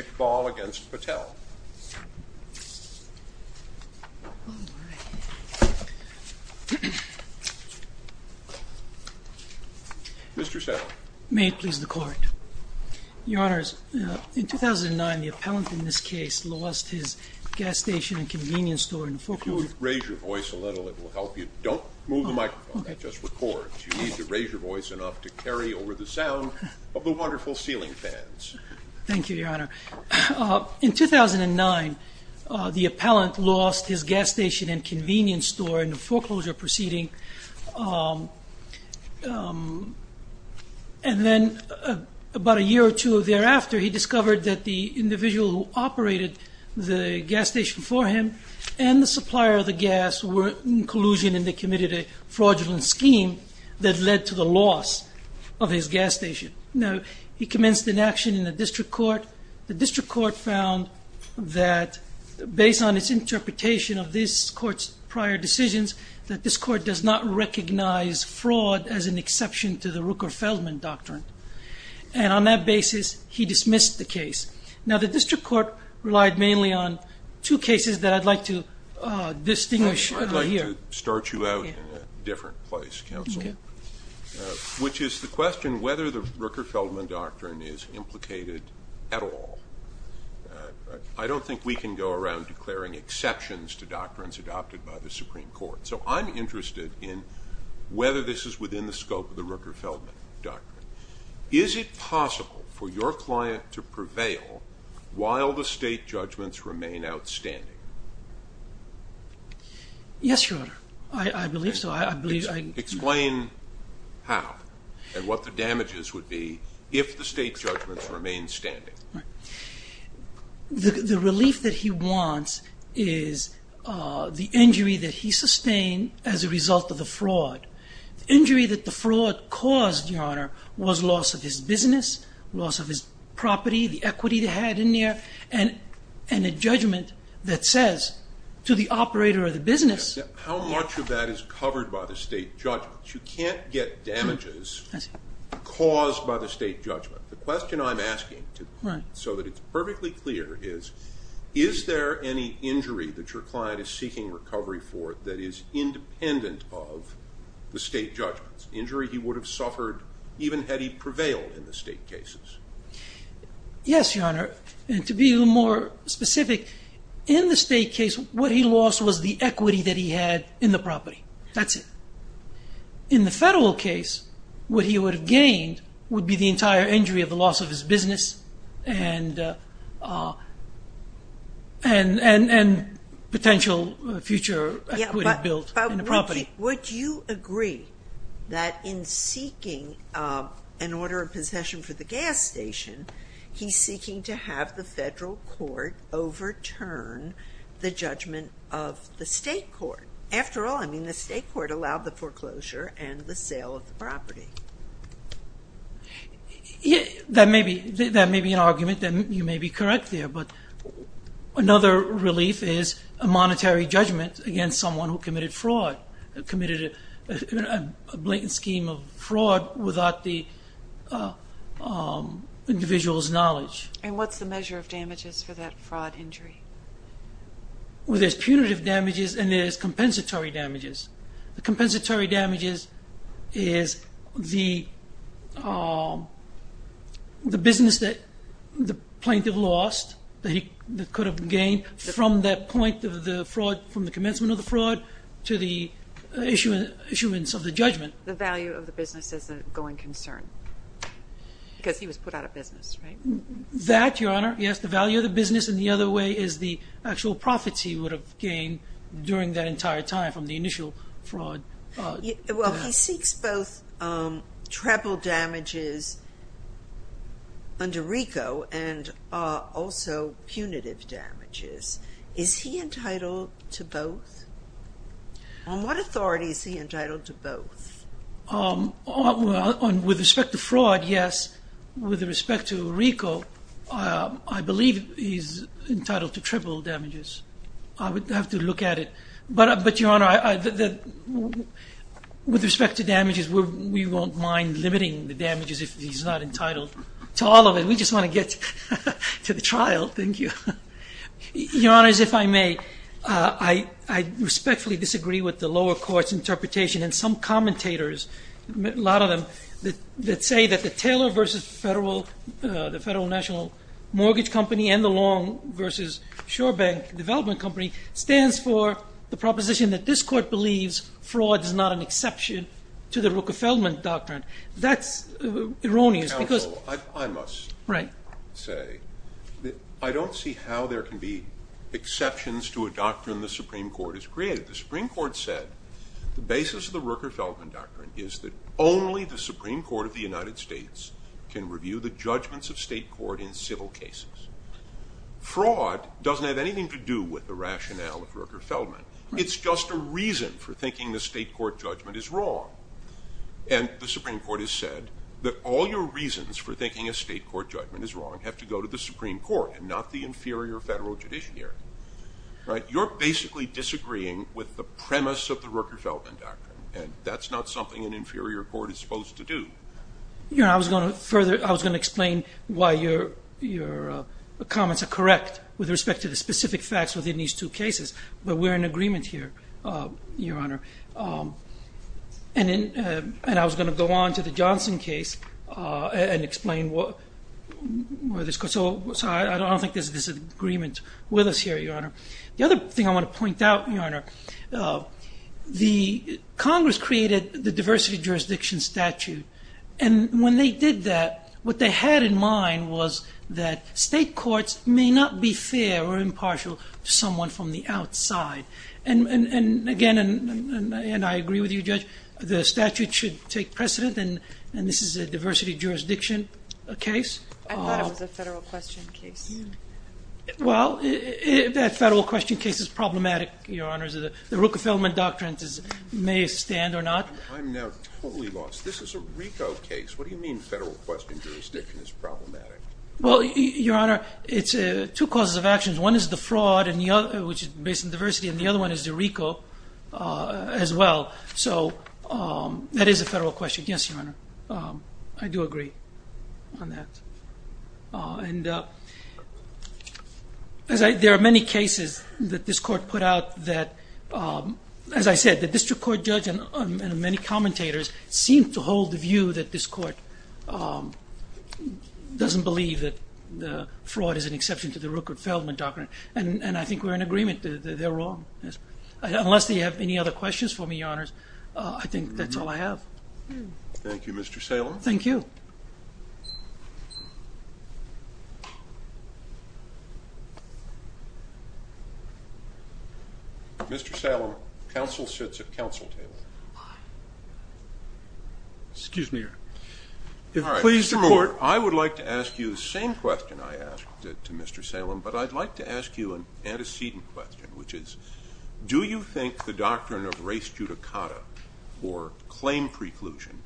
Iqbal v. Patel Mr. Settle May it please the Court Your Honours, in 2009 the appellant in this case lost his gas station and convenience store in Fulcrum If you would raise your voice a little it will help you. Don't move the microphone, that just records. You need to raise your voice enough to carry over the sound of the wonderful ceiling fans Thank you, Your Honour. In 2009 the appellant lost his gas station and convenience store in a foreclosure proceeding And then about a year or two thereafter he discovered that the individual who operated the gas station for him and the supplier of the gas were in collusion and they committed a fraudulent scheme that led to the loss of his gas station He commenced an action in the district court. The district court found that based on its interpretation of this court's prior decisions that this court does not recognize fraud as an exception to the Rooker-Feldman Doctrine And on that basis he dismissed the case. Now the district court relied mainly on two cases that I'd like to distinguish here I'd like to start you out in a different place, Counsel, which is the question whether the Rooker-Feldman Doctrine is implicated at all I don't think we can go around declaring exceptions to doctrines adopted by the Supreme Court, so I'm interested in whether this is within the scope of the Rooker-Feldman Doctrine Is it possible for your client to prevail while the state judgments remain outstanding? Yes, Your Honor. I believe so. Explain how and what the damages would be if the state judgments remained standing The relief that he wants is the injury that he sustained as a result of the fraud The injury that the fraud caused, Your Honor, was loss of his business, loss of his property, the equity they had in there, and a judgment that says to the operator of the business How much of that is covered by the state judgments? You can't get damages caused by the state judgment The question I'm asking so that it's perfectly clear is, is there any injury that your client is seeking recovery for that is independent of the state judgments? Injury he would have suffered even had he prevailed in the state cases? Yes, Your Honor. And to be more specific, in the state case, what he lost was the equity that he had in the property. That's it. In the federal case, what he would have gained would be the entire injury of the loss of his business and potential future equity built in the property. Would you agree that in seeking an order of possession for the gas station, he's seeking to have the federal court overturn the judgment of the state court? After all, I mean, the state court allowed the foreclosure and the sale of the property. That may be an argument that you may be correct there, but another relief is a monetary judgment against someone who committed fraud, committed a blatant scheme of fraud without the individual's knowledge. And what's the measure of damages for that fraud injury? Well, there's punitive damages and there's compensatory damages. The compensatory damages is the business that the plaintiff lost that he could have gained from that point of the fraud, from the commencement of the fraud to the issuance of the judgment. The value of the business is a going concern because he was put out of business, right? That, Your Honor, yes, the value of the business. And the other way is the actual profits he would have gained during that entire time from the initial fraud. Well, he seeks both treble damages under RICO and also punitive damages. Is he entitled to both? On what authority is he entitled to both? With respect to fraud, yes. With respect to RICO, I believe he's entitled to treble damages. I would have to look at it. But, Your Honor, with respect to damages, we won't mind limiting the damages if he's not entitled to all of it. We just want to get to the trial. Thank you. Your Honors, if I may, I respectfully disagree with the lower court's interpretation and some commentators, a lot of them, that say that the Taylor v. Federal National Mortgage Company and the Long v. Shorebank Development Company stands for the proposition that this court believes fraud is not an exception to the Rockefellman Doctrine. That's erroneous. Counsel, I must say that I don't see how there can be exceptions to a doctrine the Supreme Court has created. The Supreme Court said the basis of the Rockefellman Doctrine is that only the Supreme Court of the United States can review the judgments of state court in civil cases. Fraud doesn't have anything to do with the rationale of Rockefellman. It's just a reason for thinking the state court judgment is wrong. And the Supreme Court has said that all your reasons for thinking a state court judgment is wrong have to go to the Supreme Court and not the inferior federal judiciary. You're basically disagreeing with the premise of the Rockefellman Doctrine, and that's not something an inferior court is supposed to do. Your Honor, I was going to explain why your comments are correct with respect to the specific facts within these two cases, but we're in agreement here, Your Honor. And I was going to go on to the Johnson case and explain where this goes. So I don't think there's disagreement with us here, Your Honor. The other thing I want to point out, Your Honor, the Congress created the diversity of jurisdiction statute, and when they did that, what they had in mind was that state courts may not be fair or impartial to someone from the outside. And, again, and I agree with you, Judge, the statute should take precedent, and this is a diversity of jurisdiction case. I thought it was a federal question case. Well, that federal question case is problematic, Your Honor. The Rockefellman Doctrine may stand or not. I'm now totally lost. This is a RICO case. What do you mean federal question jurisdiction is problematic? Well, Your Honor, it's two causes of actions. One is the fraud, which is based on diversity, and the other one is the RICO as well. So that is a federal question. Yes, Your Honor. I do agree on that. And there are many cases that this court put out that, as I said, the district court judge and many commentators seem to hold the view that this court doesn't believe that fraud is an exception to the Rockefellman Doctrine, and I think we're in agreement that they're wrong. Unless they have any other questions for me, Your Honors, I think that's all I have. Thank you, Mr. Salem. Thank you. Mr. Salem, counsel sits at counsel table. Excuse me, Your Honor. All right, Mr. Moore, I would like to ask you the same question I asked to Mr. Salem, but I'd like to ask you an antecedent question, which is, do you think the doctrine of res judicata, or claim preclusion,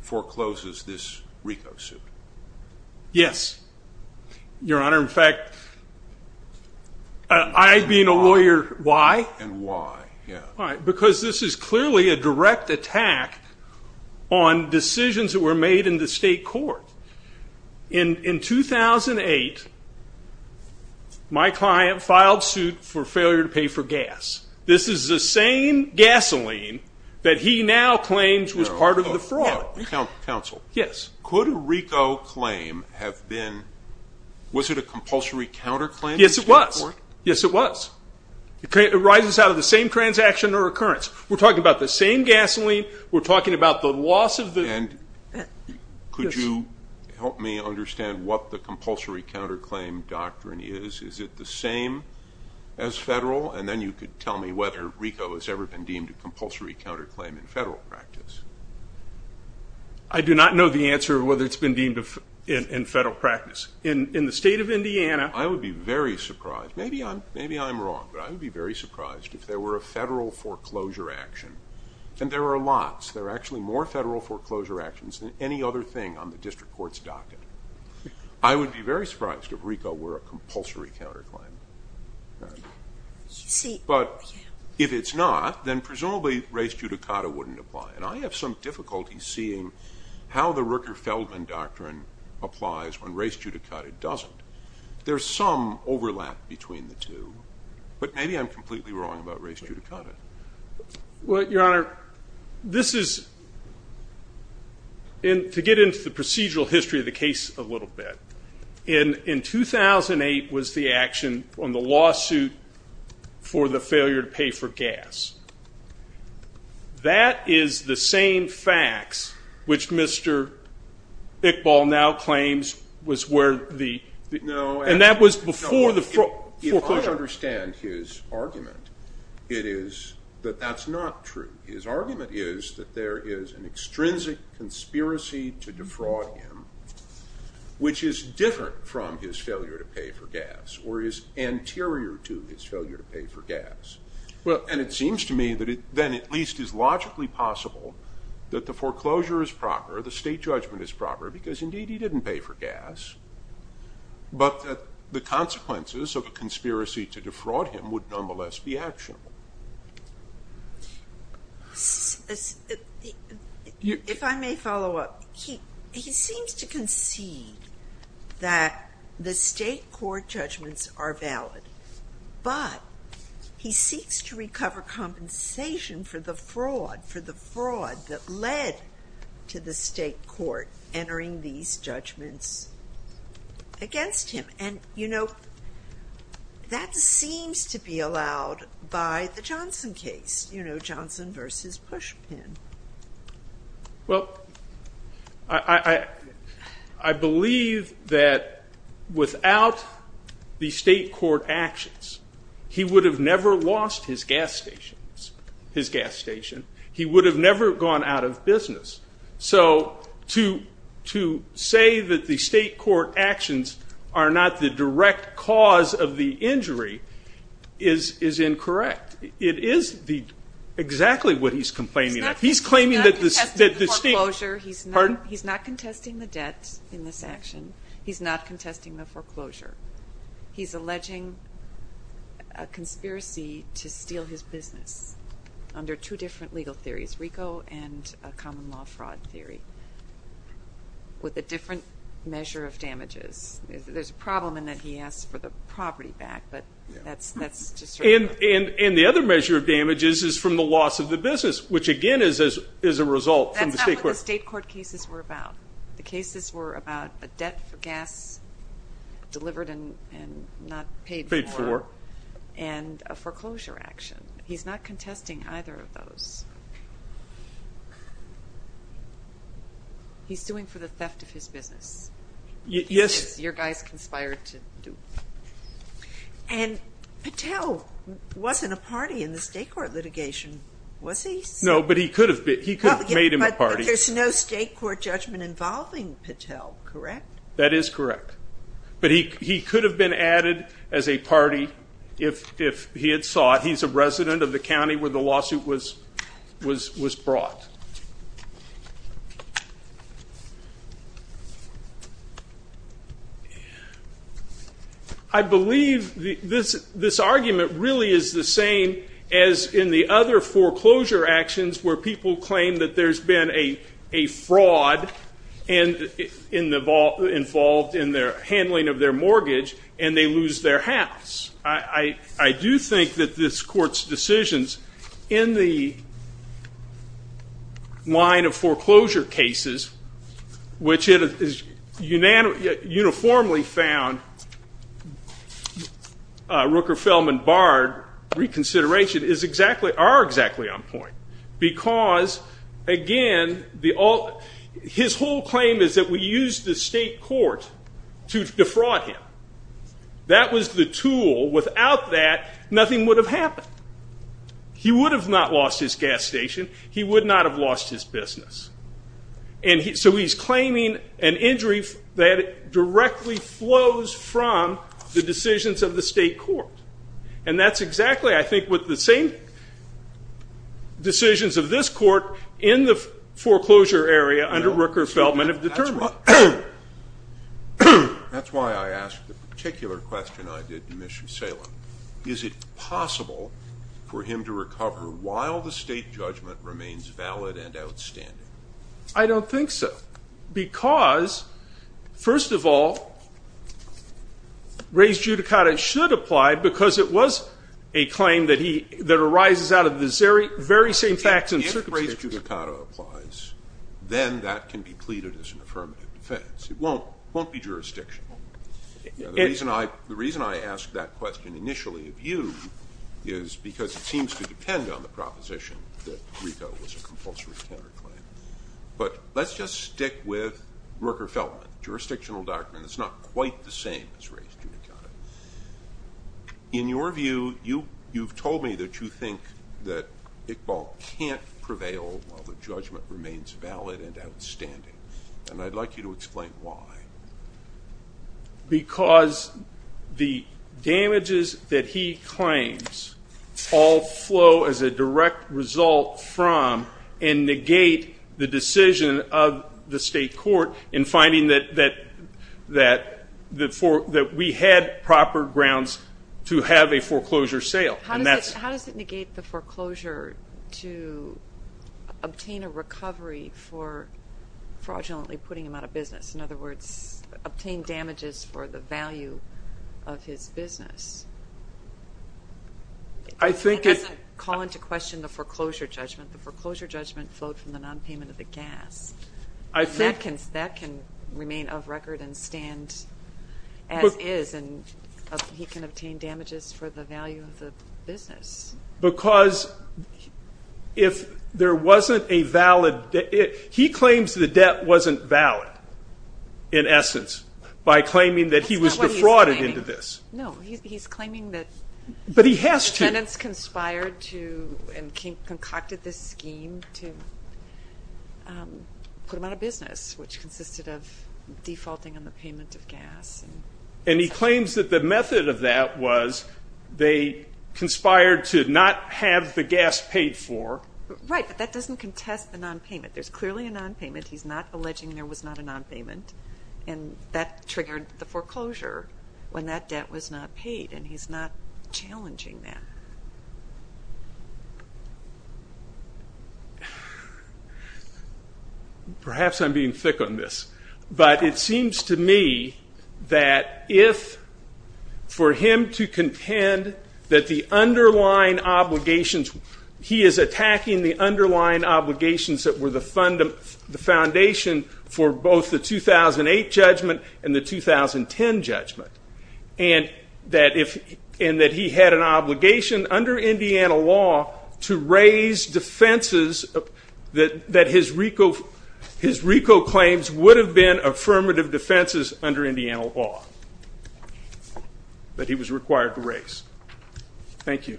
forecloses this RICO suit? Yes, Your Honor. In fact, I, being a lawyer, why? And why, yeah. Because this is clearly a direct attack on decisions that were made in the state court. In 2008, my client filed suit for failure to pay for gas. This is the same gasoline that he now claims was part of the fraud. Counsel. Yes. Could a RICO claim have been, was it a compulsory counterclaim? Yes, it was. Yes, it was. It arises out of the same transaction or occurrence. We're talking about the same gasoline. We're talking about the loss of the. And could you help me understand what the compulsory counterclaim doctrine is? Is it the same as federal? And then you could tell me whether RICO has ever been deemed a compulsory counterclaim in federal practice. I do not know the answer of whether it's been deemed in federal practice. In the state of Indiana. I would be very surprised. Maybe I'm wrong, but I would be very surprised if there were a federal foreclosure action. And there are lots. There are actually more federal foreclosure actions than any other thing on the district court's docket. I would be very surprised if RICO were a compulsory counterclaim. But if it's not, then presumably race judicata wouldn't apply. And I have some difficulty seeing how the Rooker-Feldman doctrine applies when race judicata doesn't. There's some overlap between the two. But maybe I'm completely wrong about race judicata. Well, Your Honor, this is to get into the procedural history of the case a little bit. In 2008 was the action on the lawsuit for the failure to pay for gas. That is the same facts which Mr. Iqbal now claims was where the and that was before the foreclosure. I don't understand his argument. It is that that's not true. His argument is that there is an extrinsic conspiracy to defraud him, which is different from his failure to pay for gas or is anterior to his failure to pay for gas. Well, and it seems to me that it then at least is logically possible that the foreclosure is proper. The state judgment is proper because, indeed, he didn't pay for gas. But the consequences of a conspiracy to defraud him would nonetheless be actionable. If I may follow up, he seems to concede that the state court judgments are valid. But he seeks to recover compensation for the fraud, that led to the state court entering these judgments against him. And, you know, that seems to be allowed by the Johnson case. You know, Johnson versus Pushpin. Well, I believe that without the state court actions, he would have never lost his gas station. He would have never gone out of business. So to say that the state court actions are not the direct cause of the injury is incorrect. It is exactly what he's complaining about. He's claiming that the state – He's not contesting the debt in this action. He's not contesting the foreclosure. He's alleging a conspiracy to steal his business under two different legal theories, RICO and a common law fraud theory, with a different measure of damages. There's a problem in that he asked for the property back, but that's just – And the other measure of damages is from the loss of the business, which, again, is a result from the state court – That's not what the state court cases were about. The cases were about a debt for gas delivered and not paid for. Paid for. And a foreclosure action. He's not contesting either of those. He's suing for the theft of his business. Yes. Your guy's conspired to do it. And Patel wasn't a party in the state court litigation, was he? No, but he could have been. He could have made him a party. But there's no state court judgment involving Patel, correct? That is correct. But he could have been added as a party if he had sought. He's a resident of the county where the lawsuit was brought. I believe this argument really is the same as in the other foreclosure actions where people claim that there's been a fraud involved in the handling of their mortgage and they lose their house. I do think that this court's decisions in the line of foreclosure cases, which it is uniformly found Rooker, Feldman, Bard reconsideration, are exactly on point because, again, his whole claim is that we used the state court to defraud him. That was the tool. Without that, nothing would have happened. He would have not lost his gas station. He would not have lost his business. And so he's claiming an injury that directly flows from the decisions of the state court. And that's exactly, I think, what the same decisions of this court in the foreclosure area under Rooker, Feldman have determined. That's why I asked the particular question I did in Mission Salem. Is it possible for him to recover while the state judgment remains valid and outstanding? I don't think so because, first of all, Reyes-Judicato should apply because it was a claim that arises out of the very same facts and circumstances. If Reyes-Judicato applies, then that can be pleaded as an affirmative defense. It won't be jurisdictional. The reason I asked that question initially of you is because it seems to depend on the proposition that Rico was a compulsory tender claim. But let's just stick with Rooker, Feldman. It's a jurisdictional document. It's not quite the same as Reyes-Judicato. In your view, you've told me that you think that Iqbal can't prevail while the judgment remains valid and outstanding. And I'd like you to explain why. Because the damages that he claims all flow as a direct result from and negate the decision of the state court in finding that we had proper grounds to have a foreclosure sale. How does it negate the foreclosure to obtain a recovery for fraudulently putting him out of business? In other words, obtain damages for the value of his business? It doesn't call into question the foreclosure judgment. The foreclosure judgment flowed from the nonpayment of the gas. That can remain of record and stand as is, and he can obtain damages for the value of the business. Because if there wasn't a valid debt he claims the debt wasn't valid, in essence, by claiming that he was defrauded into this. No, he's claiming that tenants conspired to and concocted this scheme to put him out of business, which consisted of defaulting on the payment of gas. And he claims that the method of that was they conspired to not have the gas paid for. Right, but that doesn't contest the nonpayment. There's clearly a nonpayment. He's not alleging there was not a nonpayment. And that triggered the foreclosure when that debt was not paid, and he's not challenging that. Perhaps I'm being thick on this, but it seems to me that if for him to contend that the underlying obligations, he is attacking the underlying obligations that were the foundation for both the 2008 judgment and the 2010 judgment, and that he had an obligation under Indiana law to raise defenses that his RICO claims would have been affirmative defenses under Indiana law. But he was required to raise. Thank you.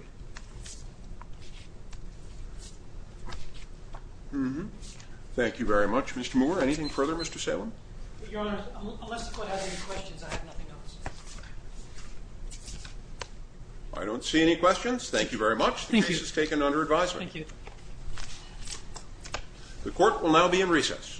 Thank you very much, Mr. Moore. Anything further, Mr. Salem? Your Honor, unless the court has any questions, I have nothing to answer. I don't see any questions. Thank you very much. Thank you. The case is taken under advisement. Thank you. The court will now be in recess. Thank you.